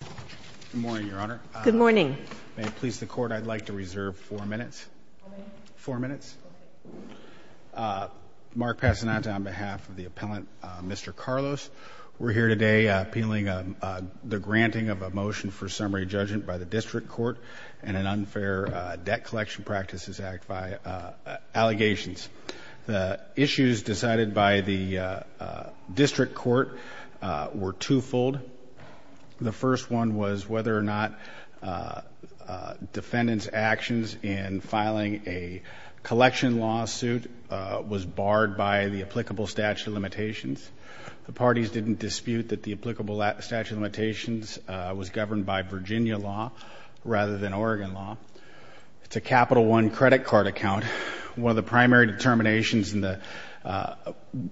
Good morning, Your Honor. Good morning. May it please the Court, I'd like to reserve four minutes. Four minutes? Four minutes? Okay. Mark Patenaude on behalf of the appellant, Mr. Carlos, we're here today appealing the granting of a motion for summary judgment by the District Court and an Unfair Debt Collection Practices Act by allegations. The issues decided by the District Court were twofold. The first one was whether or not defendant's actions in filing a collection lawsuit was barred by the applicable statute of limitations. The parties didn't dispute that the applicable statute of limitations was governed by Virginia law rather than Oregon law. It's a Capital One credit card account. One of the primary determinations about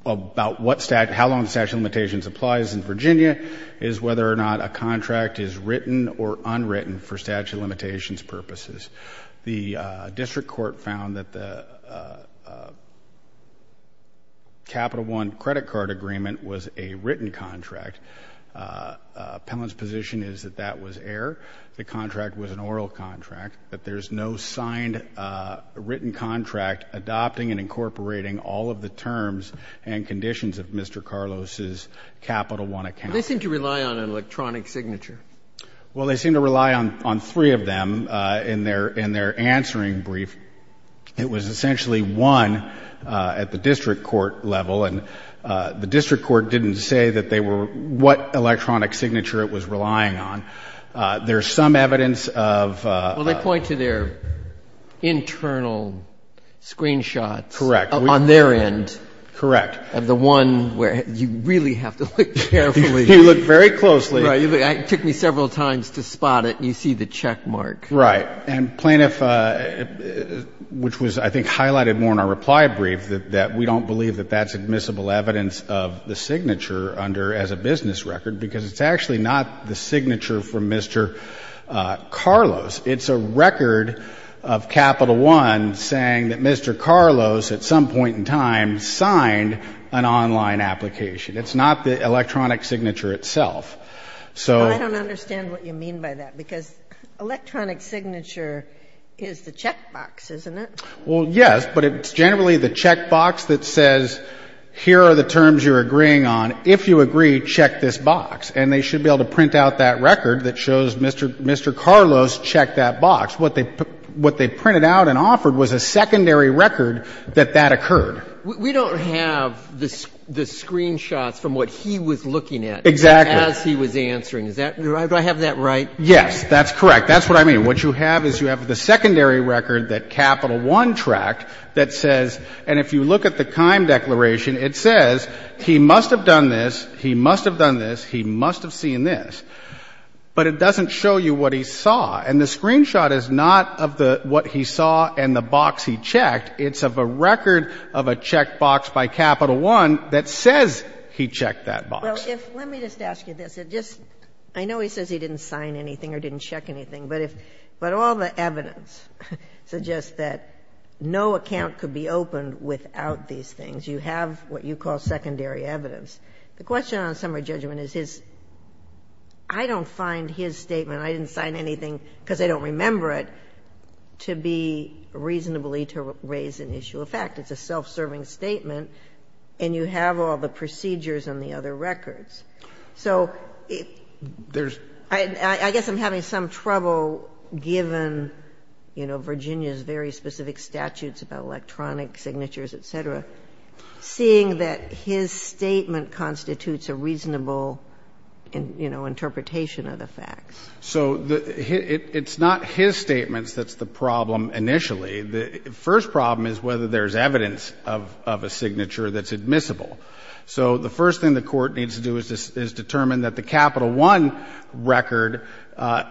how long the statute of limitations applies in whether or not a contract is written or unwritten for statute of limitations purposes. The District Court found that the Capital One credit card agreement was a written contract. Appellant's position is that that was error. The contract was an oral contract, that there's no signed written contract adopting and incorporating all of the terms and conditions of Mr. Carlos's Capital One account. They seem to rely on an electronic signature. Well, they seem to rely on three of them in their answering brief. It was essentially one at the District Court level, and the District Court didn't say that they were what electronic signature it was relying on. There's some evidence of a – Well, they point to their internal screenshots. Correct. On their end. Correct. Of the one where you really have to look carefully. You look very closely. Right. It took me several times to spot it, and you see the checkmark. Right. And Plaintiff, which was I think highlighted more in our reply brief, that we don't believe that that's admissible evidence of the signature under as a business record because it's actually not the signature from Mr. Carlos. It's a record of Capital One saying that Mr. Carlos at some point in time signed an online application. It's not the electronic signature itself. So – Well, I don't understand what you mean by that because electronic signature is the checkbox, isn't it? Well, yes, but it's generally the checkbox that says here are the terms you're agreeing on. If you agree, check this box. And they should be able to print out that record that shows Mr. Carlos checked that box. What they printed out and offered was a secondary record that that occurred. We don't have the screenshots from what he was looking at. Exactly. As he was answering. Do I have that right? Yes. That's correct. That's what I mean. What you have is you have the secondary record that Capital One tracked that says – and if you look at the Kime Declaration, it says he must have done this, he must have seen this, but it doesn't show you what he saw. And the screenshot is not of what he saw and the box he checked. It's of a record of a checkbox by Capital One that says he checked that box. Well, let me just ask you this. I know he says he didn't sign anything or didn't check anything, but all the evidence suggests that no account could be opened without these things. You have what you call secondary evidence. The question on summary judgment is I don't find his statement, I didn't sign anything because I don't remember it, to be reasonably to raise an issue of fact. It's a self-serving statement and you have all the procedures on the other records. So I guess I'm having some trouble given, you know, Virginia's very specific statutes about electronic signatures, et cetera, seeing that his statement constitutes a reasonable, you know, interpretation of the facts. So it's not his statements that's the problem initially. The first problem is whether there's evidence of a signature that's admissible. So the first thing the Court needs to do is determine that the Capital One record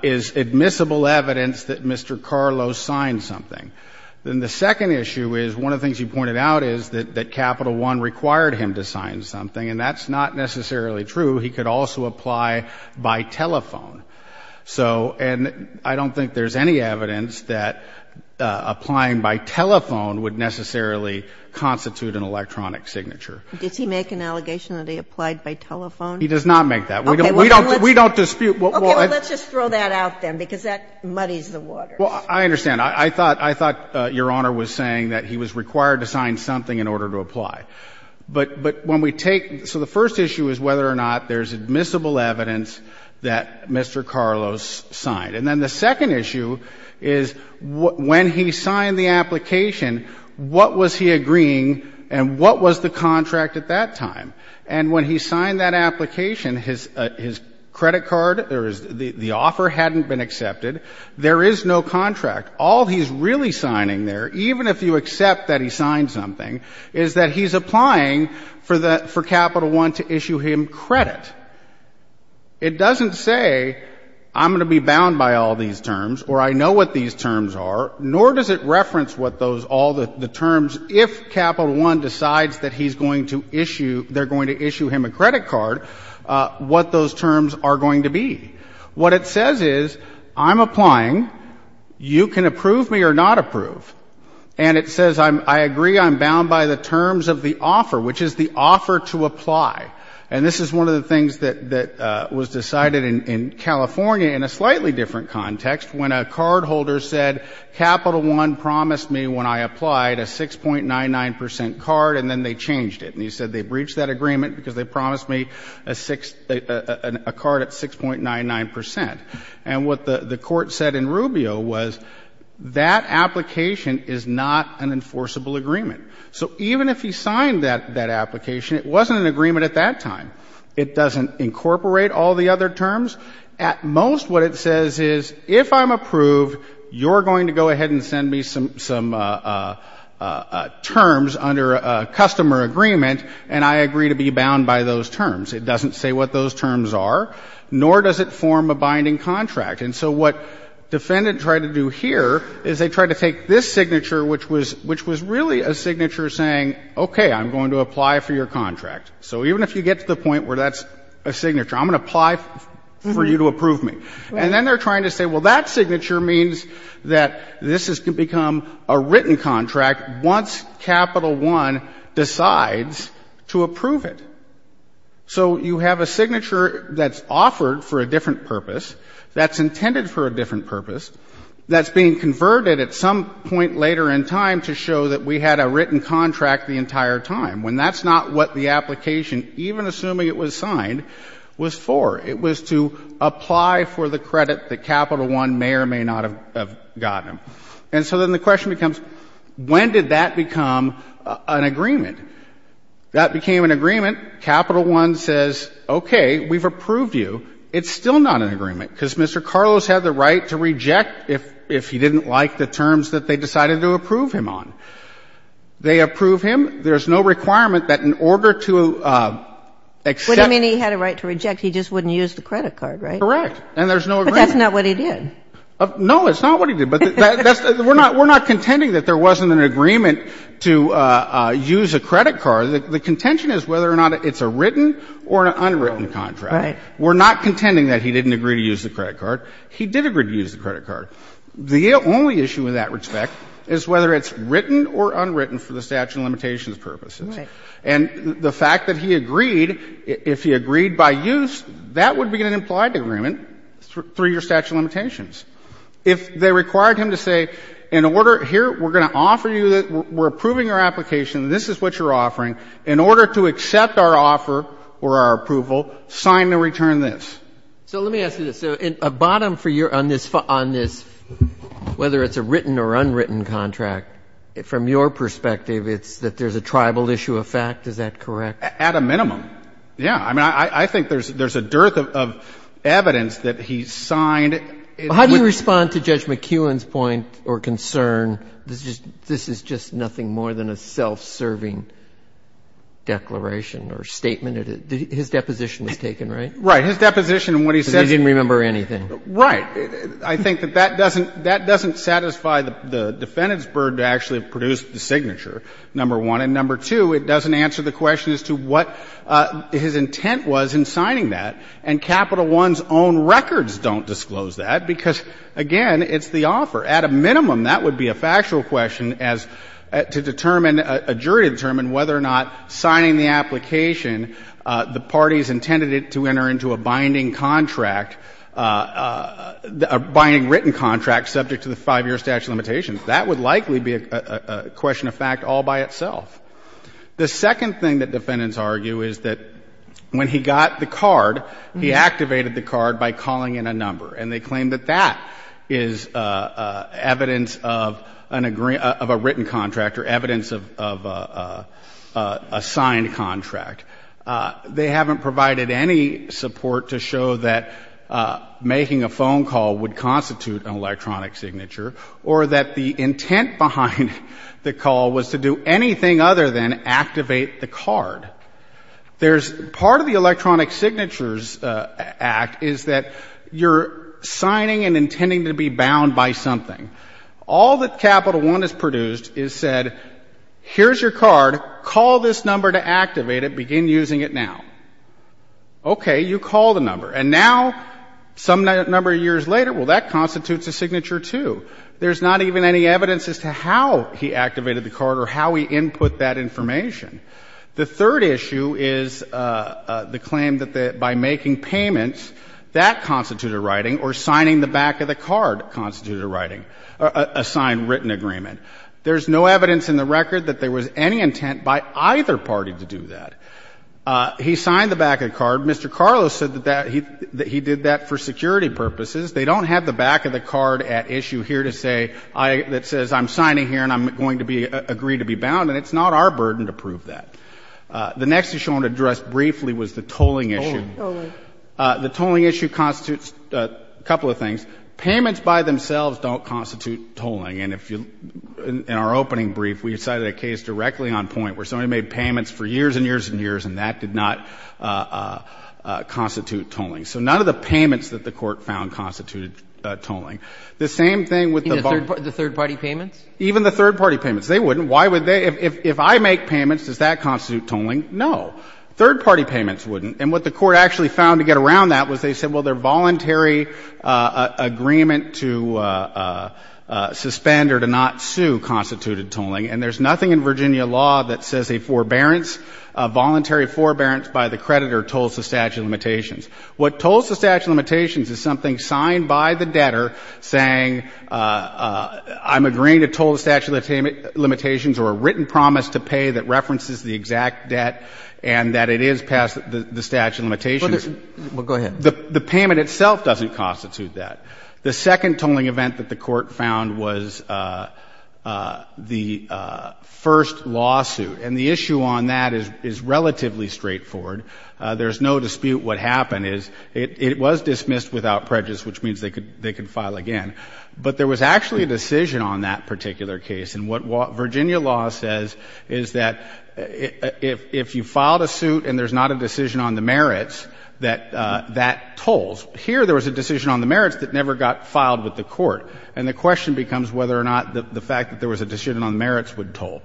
is admissible evidence that Mr. Carlos signed something. Then the second issue is one of the things you pointed out is that Capital One required him to sign something, and that's not necessarily true. He could also apply by telephone. So, and I don't think there's any evidence that applying by telephone would necessarily constitute an electronic signature. Did he make an allegation that he applied by telephone? He does not make that. Okay. We don't dispute. Okay. Well, let's just throw that out then because that muddies the water. Well, I understand. I thought, I thought Your Honor was saying that he was required to sign something in order to apply. But when we take, so the first issue is whether or not there's admissible evidence that Mr. Carlos signed. And then the second issue is when he signed the application, what was he agreeing and what was the contract at that time? And when he signed that application, his credit card, the offer hadn't been accepted. There is no contract. All he's really signing there, even if you accept that he signed something, is that he's applying for Capital One to issue him credit. It doesn't say I'm going to be bound by all these terms or I know what these terms are, nor does it reference what those, all the terms, if Capital One decides that he's going to issue, they're going to issue him a credit card, what those terms are going to be. What it says is I'm applying. You can approve me or not approve. And it says I agree I'm bound by the terms of the offer, which is the offer to apply. And this is one of the things that was decided in California in a slightly different context when a cardholder said Capital One promised me when I applied a 6.99% card and then they changed it. And he said they breached that agreement because they promised me a card at 6.99%. And what the Court said in Rubio was that application is not an enforceable agreement. So even if he signed that application, it wasn't an agreement at that time. It doesn't incorporate all the other terms. At most what it says is if I'm approved, you're going to go ahead and send me some terms under a customer agreement and I agree to be bound by those terms. It doesn't say what those terms are, nor does it form a binding contract. And so what Defendant tried to do here is they tried to take this signature, which was really a signature saying, okay, I'm going to apply for your contract. So even if you get to the point where that's a signature, I'm going to apply for you to approve me. And then they're trying to say, well, that signature means that this has become a written contract once Capital One decides to approve it. So you have a signature that's offered for a different purpose, that's intended for a different purpose, that's being converted at some point later in time to show that we had a written contract the entire time, when that's not what the application, even assuming it was signed, was for. It was to apply for the credit that Capital One may or may not have gotten. And so then the question becomes, when did that become an agreement? That became an agreement. Capital One says, okay, we've approved you. It's still not an agreement, because Mr. Carlos had the right to reject if he didn't like the terms that they decided to approve him on. They approve him. There's no requirement that in order to accept. I mean, he had a right to reject. He just wouldn't use the credit card, right? Correct. And there's no agreement. But that's not what he did. No, it's not what he did. But we're not contending that there wasn't an agreement to use a credit card. The contention is whether or not it's a written or an unwritten contract. Right. We're not contending that he didn't agree to use the credit card. He did agree to use the credit card. The only issue in that respect is whether it's written or unwritten for the statute of limitations purposes. Right. And the fact that he agreed, if he agreed by use, that would be an implied agreement through your statute of limitations. If they required him to say, in order, here, we're going to offer you, we're approving your application, this is what you're offering, in order to accept our offer or our approval, sign and return this. So let me ask you this. So a bottom for your, on this, whether it's a written or unwritten contract, from your perspective, it's that there's a tribal issue of fact? Is that correct? At a minimum, yeah. I mean, I think there's a dearth of evidence that he signed. How do you respond to Judge McKeown's point or concern, this is just nothing more than a self-serving declaration or statement? His deposition was taken, right? Right. His deposition and what he said. Because he didn't remember anything. Right. I think that that doesn't satisfy the defendant's burden to actually produce the signature, number one. And number two, it doesn't answer the question as to what his intent was in signing that. And Capital One's own records don't disclose that, because, again, it's the offer. At a minimum, that would be a factual question as to determine, a jury to determine whether or not signing the application, the parties intended it to enter into a binding contract, a binding written contract subject to the 5-year statute of limitations. That would likely be a question of fact all by itself. The second thing that defendants argue is that when he got the card, he activated the card by calling in a number. And they claim that that is evidence of a written contract or evidence of a signed contract. They haven't provided any support to show that making a phone call would constitute an electronic signature or that the intent behind the call was to do anything other than activate the card. There's part of the Electronic Signatures Act is that you're signing and intending to be bound by something. All that Capital One has produced is said, here's your card, call this number to begin using it now. Okay. You call the number. And now, some number of years later, well, that constitutes a signature, too. There's not even any evidence as to how he activated the card or how he input that information. The third issue is the claim that by making payments, that constituted writing or signing the back of the card constituted writing, a signed written agreement. There's no evidence in the record that there was any intent by either party to do that. He signed the back of the card. Mr. Carlos said that he did that for security purposes. They don't have the back of the card at issue here that says I'm signing here and I'm going to agree to be bound. And it's not our burden to prove that. The next issue I want to address briefly was the tolling issue. The tolling issue constitutes a couple of things. Payments by themselves don't constitute tolling. And in our opening brief, we cited a case directly on point where somebody made payments for years and years and years, and that did not constitute tolling. So none of the payments that the Court found constituted tolling. The same thing with the bond. The third party payments? Even the third party payments. They wouldn't. Why would they? If I make payments, does that constitute tolling? No. Third party payments wouldn't. And what the Court actually found to get around that was they said, well, they're voluntary agreement to suspend or to not sue constituted tolling. And there's nothing in Virginia law that says a forbearance, a voluntary forbearance by the creditor tolls the statute of limitations. What tolls the statute of limitations is something signed by the debtor saying I'm agreeing to toll the statute of limitations or a written promise to pay that references the exact debt and that it is past the statute of limitations. Well, go ahead. The payment itself doesn't constitute that. The second tolling event that the Court found was the first lawsuit. And the issue on that is relatively straightforward. There's no dispute what happened is it was dismissed without prejudice, which means they could file again. But there was actually a decision on that particular case. And what Virginia law says is that if you filed a suit and there's not a decision on the merits, that that tolls. Here there was a decision on the merits that never got filed with the Court. And the question becomes whether or not the fact that there was a decision on the merits would toll.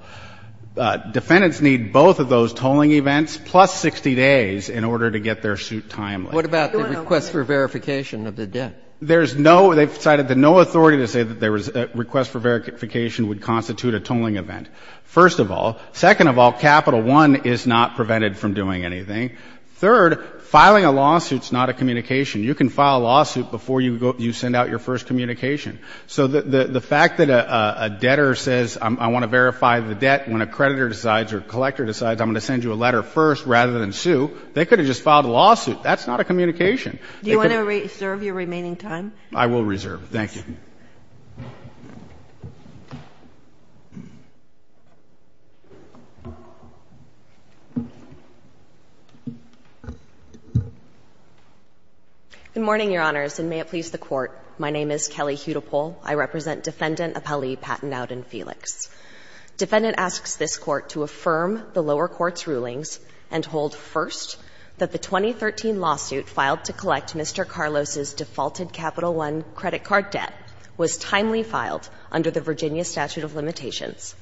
Defendants need both of those tolling events plus 60 days in order to get their suit timely. What about the request for verification of the debt? There's no – they've cited that no authority to say that there was a request for verification would constitute a tolling event, first of all. Second of all, Capital I is not prevented from doing anything. Third, filing a lawsuit is not a communication. You can file a lawsuit before you send out your first communication. So the fact that a debtor says I want to verify the debt when a creditor decides or a collector decides I'm going to send you a letter first rather than sue, they could have just filed a lawsuit. That's not a communication. Do you want to reserve your remaining time? I will reserve. Thank you. Good morning, Your Honors, and may it please the Court. My name is Kelly Hudepohl. I represent Defendant Appellee Patton Dowden-Felix. Defendant asks this Court to affirm the lower court's rulings and hold, first, that the 2013 lawsuit filed to collect Mr. Carlos's defaulted Capital I credit card debt was timely filed under the Virginia statute of limitations,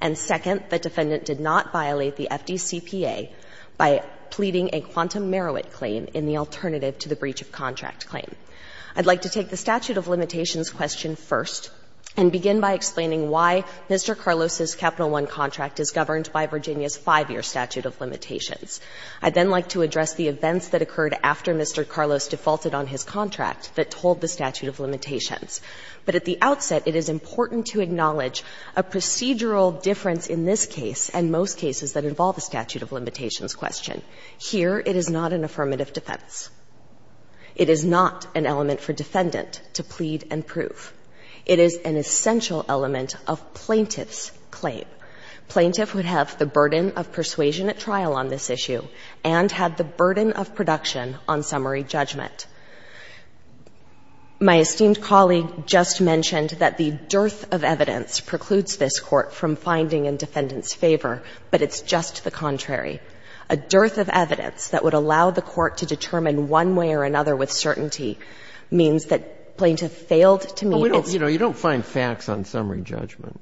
and, second, the defendant did not violate the FDCPA by pleading a quantum merit claim in the alternative to the breach of contract claim. I'd like to take the statute of limitations question first and begin by explaining why Mr. Carlos's Capital I contract is governed by Virginia's five-year statute of limitations. I'd then like to address the events that occurred after Mr. Carlos defaulted on his contract that told the statute of limitations. But at the outset, it is important to acknowledge a procedural difference in this case and most cases that involve the statute of limitations question. Here, it is not an affirmative defense. It is not an element for defendant to plead and prove. It is an essential element of plaintiff's claim. Plaintiff would have the burden of persuasion at trial on this issue and had the burden of production on summary judgment. My esteemed colleague just mentioned that the dearth of evidence precludes this Court from finding in defendant's favor, but it's just the contrary. A dearth of evidence that would allow the Court to determine one way or another with certainty means that plaintiff failed to meet its needs. But we don't, you know, you don't find facts on summary judgment.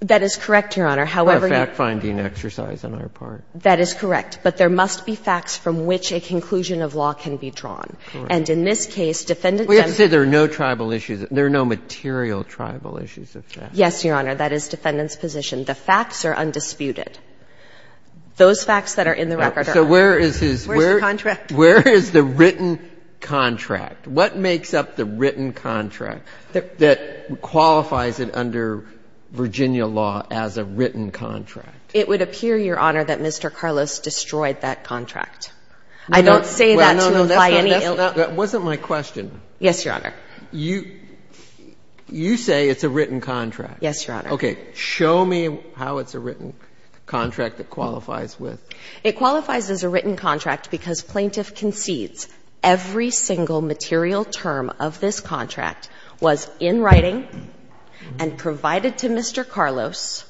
That is correct, Your Honor. However, you. A fact-finding exercise on our part. That is correct. But there must be facts from which a conclusion of law can be drawn. Correct. And in this case, defendant. We have to say there are no tribal issues. There are no material tribal issues of facts. Yes, Your Honor. That is defendant's position. The facts are undisputed. Those facts that are in the record are. So where is his. Where is the contract? Where is the written contract? What makes up the written contract that qualifies it under Virginia law as a written contract? It would appear, Your Honor, that Mr. Carlos destroyed that contract. I don't say that to imply any. That wasn't my question. Yes, Your Honor. You say it's a written contract. Yes, Your Honor. Okay. Show me how it's a written contract that qualifies with. It qualifies as a written contract because plaintiff concedes every single material term of this contract was in writing and provided to Mr. Carlos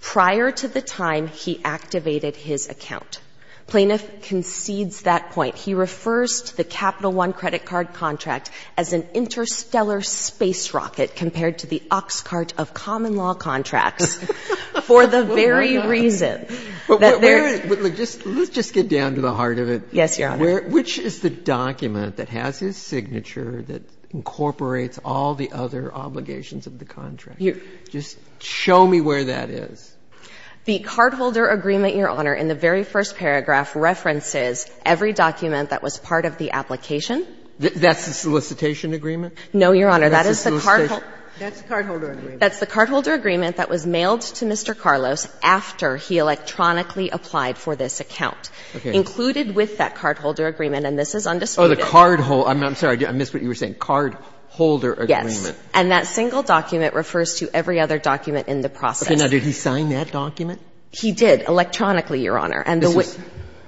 prior to the time he activated his account. Plaintiff concedes that point. He refers to the Capital I credit card contract as an interstellar space rocket compared to the ox cart of common law contracts for the very reason that there is. Let's just get down to the heart of it. Yes, Your Honor. Which is the document that has his signature that incorporates all the other obligations of the contract? Just show me where that is. The cardholder agreement, Your Honor, in the very first paragraph references every document that was part of the application. That's the solicitation agreement? No, Your Honor. That's the cardholder agreement. That's the cardholder agreement that was mailed to Mr. Carlos after he electronically applied for this account, included with that cardholder agreement, and this is undisputed. Oh, the cardholder. I'm sorry, I missed what you were saying. Cardholder agreement. Yes. And that single document refers to every other document in the process. Okay. Now, did he sign that document? He did, electronically, Your Honor.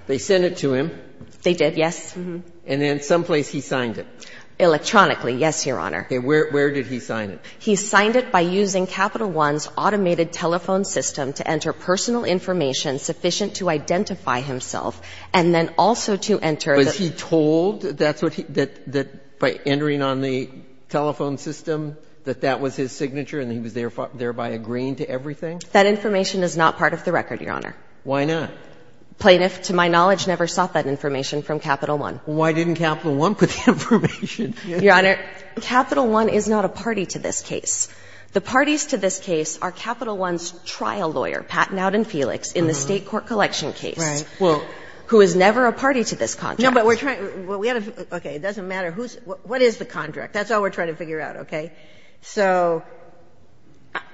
They sent it to him. They did, yes. And then someplace he signed it. Electronically, yes, Your Honor. Okay. Where did he sign it? He signed it by using Capital One's automated telephone system to enter personal information sufficient to identify himself, and then also to enter the... Was he told that by entering on the telephone system that that was his signature and he was thereby agreeing to everything? That information is not part of the record, Your Honor. Why not? Plaintiff, to my knowledge, never sought that information from Capital One. Why didn't Capital One put the information? Your Honor, Capital One is not a party to this case. The parties to this case are Capital One's trial lawyer, Pat Nowdon-Felix, in the State Court collection case. Right. Who is never a party to this contract. No, but we're trying to... Okay. It doesn't matter who's... What is the contract? That's all we're trying to figure out, okay? So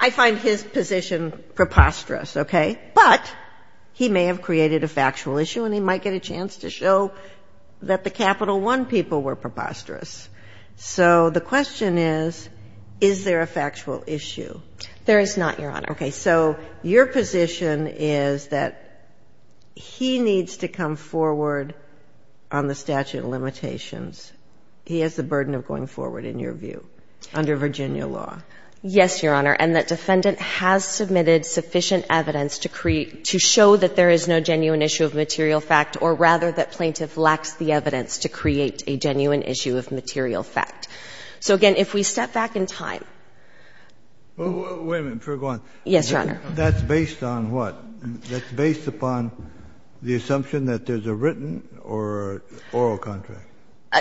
I find his position preposterous, okay? But he may have created a factual issue, and he might get a chance to show that the Capital One people were preposterous. So the question is, is there a factual issue? There is not, Your Honor. Okay. So your position is that he needs to come forward on the statute of limitations. He has the burden of going forward, in your view, under Virginia law. Yes, Your Honor, and that defendant has submitted sufficient evidence to create a genuine issue of material fact. So, again, if we step back in time... Wait a minute. Sure, go on. Yes, Your Honor. That's based on what? That's based upon the assumption that there's a written or oral contract.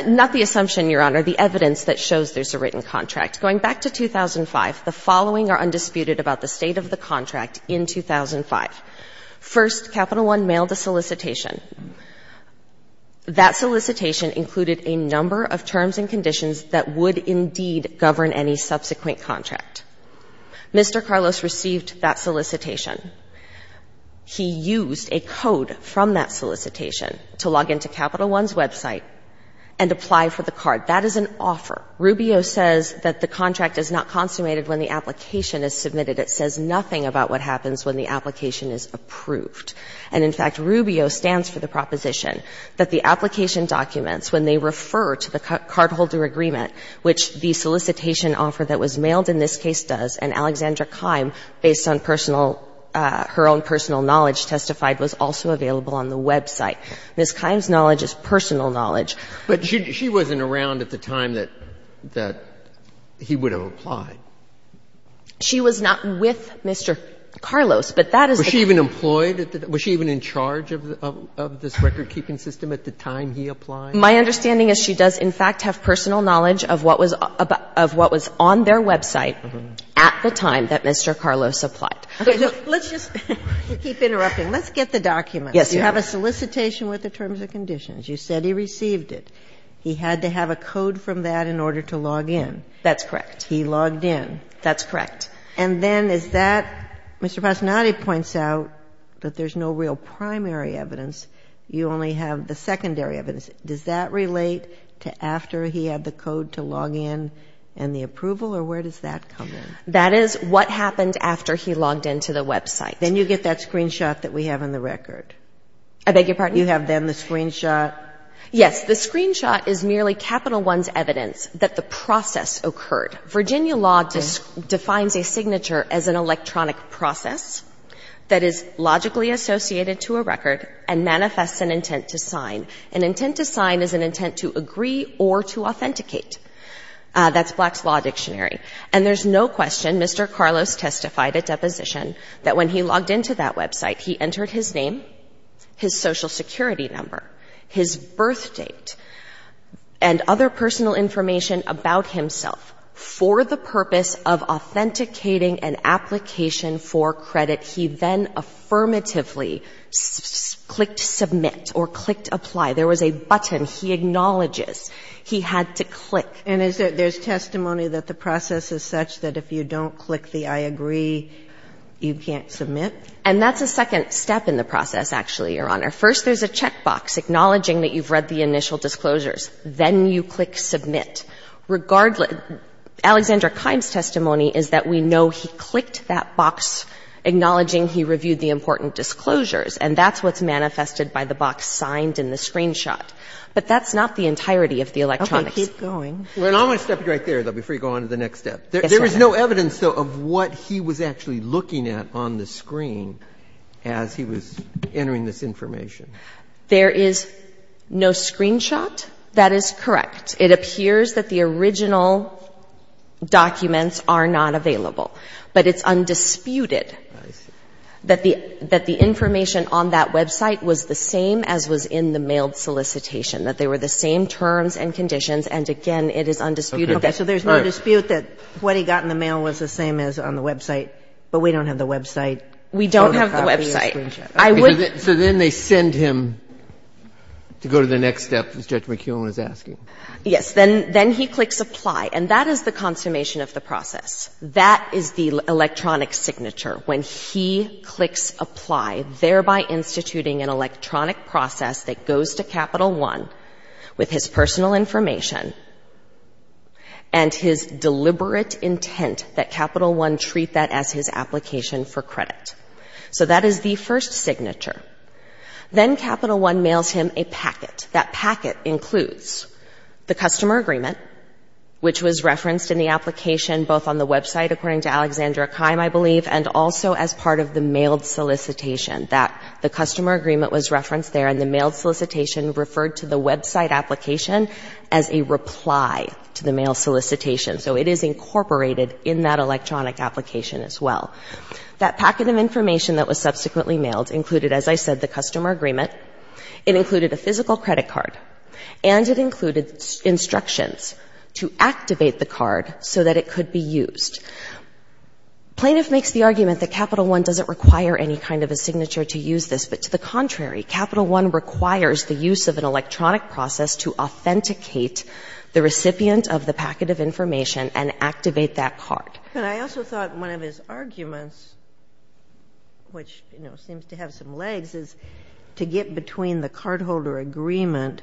Not the assumption, Your Honor. The evidence that shows there's a written contract. Going back to 2005, the following are undisputed about the state of the contract in 2005. First, Capital One mailed a solicitation. That solicitation included a number of terms and conditions that would indeed govern any subsequent contract. Mr. Carlos received that solicitation. He used a code from that solicitation to log into Capital One's website and apply for the card. That is an offer. Rubio says that the contract is not consummated when the application is submitted. It says nothing about what happens when the application is approved. And, in fact, Rubio stands for the proposition that the application documents when they refer to the cardholder agreement, which the solicitation offer that was mailed in this case does, and Alexandra Keim, based on personal, her own personal knowledge, testified was also available on the website. Ms. Keim's knowledge is personal knowledge. But she wasn't around at the time that he would have applied. She was not with Mr. Carlos, but that is the case. Was she even employed? Was she even in charge of this recordkeeping system at the time he applied? My understanding is she does, in fact, have personal knowledge of what was on their website at the time that Mr. Carlos applied. Okay. Let's just keep interrupting. Let's get the documents. Yes, Your Honor. You have a solicitation with the terms and conditions. You said he received it. He had to have a code from that in order to log in. That's correct. He logged in. That's correct. And then is that, Mr. Passanati points out that there's no real primary evidence. You only have the secondary evidence. Does that relate to after he had the code to log in and the approval, or where does that come in? That is what happened after he logged into the website. Then you get that screenshot that we have on the record. I beg your pardon? You have then the screenshot. Yes. The screenshot is merely Capital One's evidence that the process occurred. Virginia law defines a signature as an electronic process that is logically associated to a record and manifests an intent to sign. An intent to sign is an intent to agree or to authenticate. That's Black's Law Dictionary. And there's no question Mr. Carlos testified at deposition that when he logged into that website, he entered his name, his Social Security number, his birth date, and other personal information about himself for the purpose of authenticating an application for credit. He then affirmatively clicked submit or clicked apply. There was a button. He acknowledges. He had to click. And is there testimony that the process is such that if you don't click the I agree, you can't submit? And that's a second step in the process, actually, Your Honor. First, there's a checkbox acknowledging that you've read the initial disclosures. Then you click submit. Regardless, Alexander Kimes' testimony is that we know he clicked that box acknowledging he reviewed the important disclosures. And that's what's manifested by the box signed in the screenshot. But that's not the entirety of the electronics. Okay. Keep going. Well, I'm going to stop you right there, though, before you go on to the next step. Yes, Your Honor. There's no evidence, though, of what he was actually looking at on the screen as he was entering this information. There is no screenshot. That is correct. It appears that the original documents are not available. But it's undisputed that the information on that website was the same as was in the mailed solicitation, that they were the same terms and conditions. And, again, it is undisputed. Okay. So there's no dispute that what he got in the mail was the same as on the website, but we don't have the website. We don't have the website. So then they send him to go to the next step, as Judge McKeown is asking. Yes. Then he clicks apply. And that is the consummation of the process. That is the electronic signature. When he clicks apply, thereby instituting an electronic process that goes to Capital I with his personal information and his deliberate intent that Capital I treat that as his application for credit. So that is the first signature. Then Capital I mails him a packet. That packet includes the customer agreement, which was referenced in the application both on the website, according to Alexandra Keim, I believe, and also as part of the mailed solicitation. That the customer agreement was referenced there, and the mailed solicitation referred to the website application as a reply to the mail solicitation. So it is incorporated in that electronic application as well. That packet of information that was subsequently mailed included, as I said, the customer agreement. It included a physical credit card. And it included instructions to activate the card so that it could be used. Plaintiff makes the argument that Capital I doesn't require any kind of a signature to use this. But to the contrary, Capital I requires the use of an electronic process to authenticate the recipient of the packet of information and activate that card. But I also thought one of his arguments, which, you know, seems to have some legs, is to get between the cardholder agreement,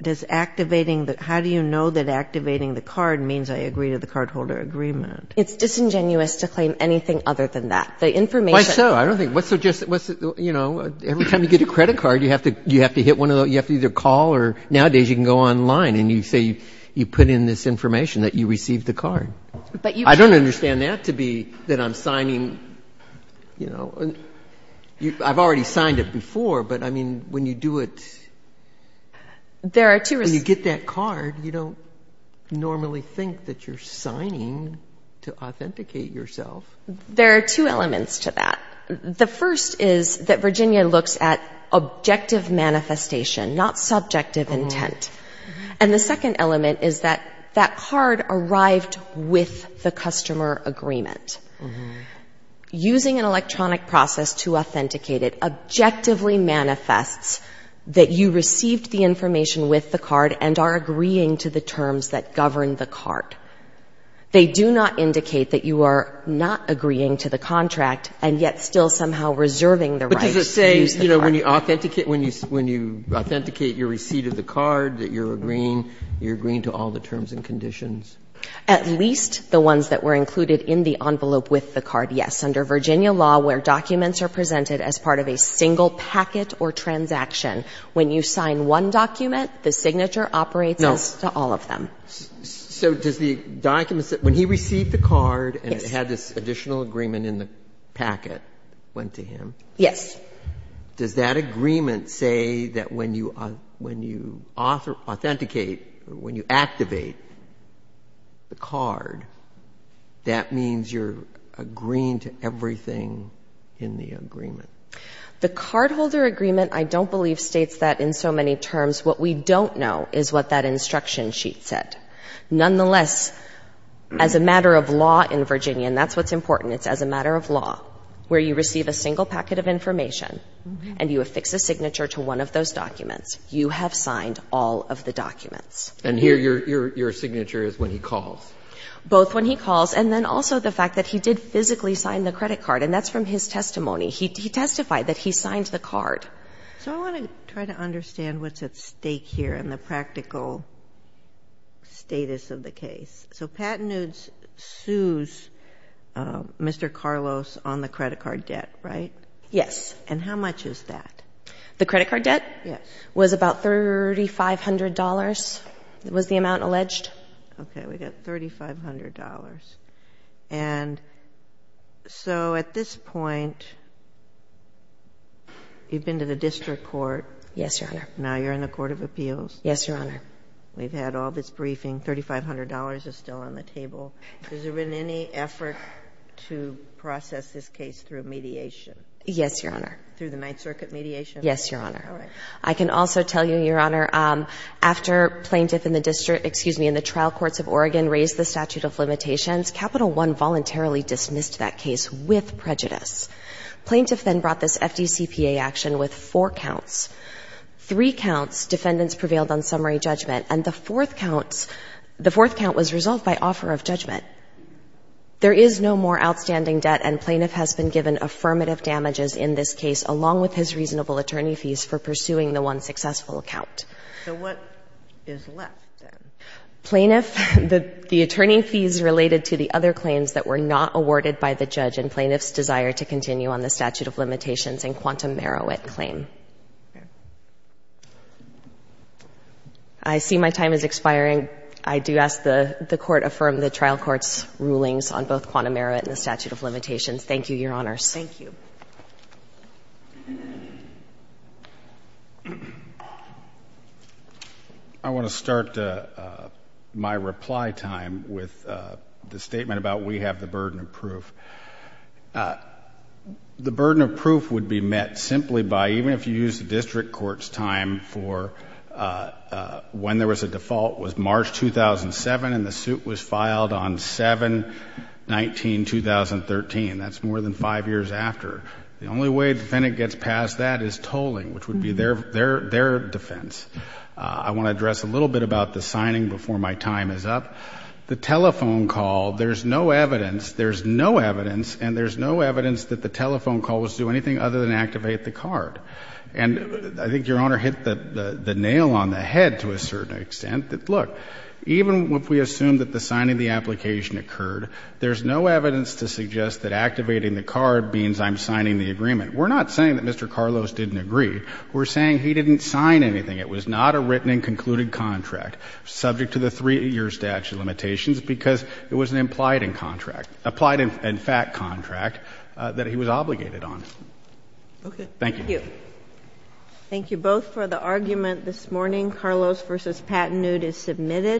does activating the — how do you know that activating the card means I agree to the cardholder agreement? It's disingenuous to claim anything other than that. The information — Why so? I don't think — what's the — you know, every time you get a credit card, you have to hit one of the — you have to either call or nowadays you can go online and you say you put in this information that you received the card. But you can't — I don't understand that to be that I'm signing, you know — I've already signed it before, but, I mean, when you do it — There are two — When you get that card, you don't normally think that you're signing to authenticate yourself. There are two elements to that. The first is that Virginia looks at objective manifestation, not subjective intent. And the second element is that that card arrived with the customer agreement. Using an electronic process to authenticate it objectively manifests that you received the information with the card and are agreeing to the terms that govern the card. They do not indicate that you are not agreeing to the contract and yet still somehow reserving the right to use the card. But does it say, you know, when you authenticate — when you authenticate your receipt of the card, that you're agreeing — you're agreeing to all the terms and conditions? At least the ones that were included in the envelope with the card, yes. Under Virginia law, where documents are presented as part of a single packet or transaction, when you sign one document, the signature operates as to all of them. No. So does the document — when he received the card and it had this additional agreement in the packet went to him? Yes. Does that agreement say that when you authenticate, when you activate the card, that means you're agreeing to everything in the agreement? The cardholder agreement I don't believe states that in so many terms. What we don't know is what that instruction sheet said. Nonetheless, as a matter of law in Virginia, and that's what's important, it's as a matter of law, where you receive a single packet of information and you affix a signature to one of those documents, you have signed all of the documents. And here your signature is when he calls? Both when he calls and then also the fact that he did physically sign the credit card, and that's from his testimony. He testified that he signed the card. So I want to try to understand what's at stake here in the practical status of the case. So Pat Nudes sues Mr. Carlos on the credit card debt, right? Yes. And how much is that? The credit card debt was about $3,500 was the amount alleged. Okay. We've got $3,500. And so at this point you've been to the district court. Yes, Your Honor. Now you're in the Court of Appeals. Yes, Your Honor. We've had all this briefing. $3,500 is still on the table. Has there been any effort to process this case through mediation? Yes, Your Honor. Through the Ninth Circuit mediation? Yes, Your Honor. All right. I can also tell you, Your Honor, after plaintiff in the district, excuse me, in the trial courts of Oregon raised the statute of limitations, Capital One voluntarily dismissed that case with prejudice. Plaintiff then brought this FDCPA action with four counts. Three counts, defendants prevailed on summary judgment, and the fourth count was resolved by offer of judgment. There is no more outstanding debt, and plaintiff has been given affirmative damages in this case along with his reasonable attorney fees for pursuing the one successful count. So what is left then? Plaintiff, the attorney fees related to the other claims that were not awarded by the judge, and plaintiff's desire to continue on the statute of limitations and quantum merit claim. I see my time is expiring. I do ask the court affirm the trial court's rulings on both quantum merit and the statute of limitations. Thank you, Your Honors. Thank you. I want to start my reply time with the statement about we have the burden of proof. The burden of proof would be met simply by, even if you use the district court's time for when there was a default, was March 2007, and the suit was filed on 7-19-2013. That's more than five years after. The only way a defendant gets past that is tolling, which would be their defense. I want to address a little bit about the signing before my time is up. The telephone call, there's no evidence, there's no evidence, and there's no evidence that the telephone call was to do anything other than activate the card. And I think Your Honor hit the nail on the head to a certain extent that, look, even if we assume that the signing of the application occurred, there's no evidence to suggest that activating the card means I'm signing the agreement. We're not saying that Mr. Carlos didn't agree. We're saying he didn't sign anything. It was not a written and concluded contract subject to the three-year statute of limitations because it was an implied in contract, applied in fact contract that he was obligated on. Okay. Thank you. Thank you. Thank you both for the argument this morning. Carlos v. Pattennewt is submitted.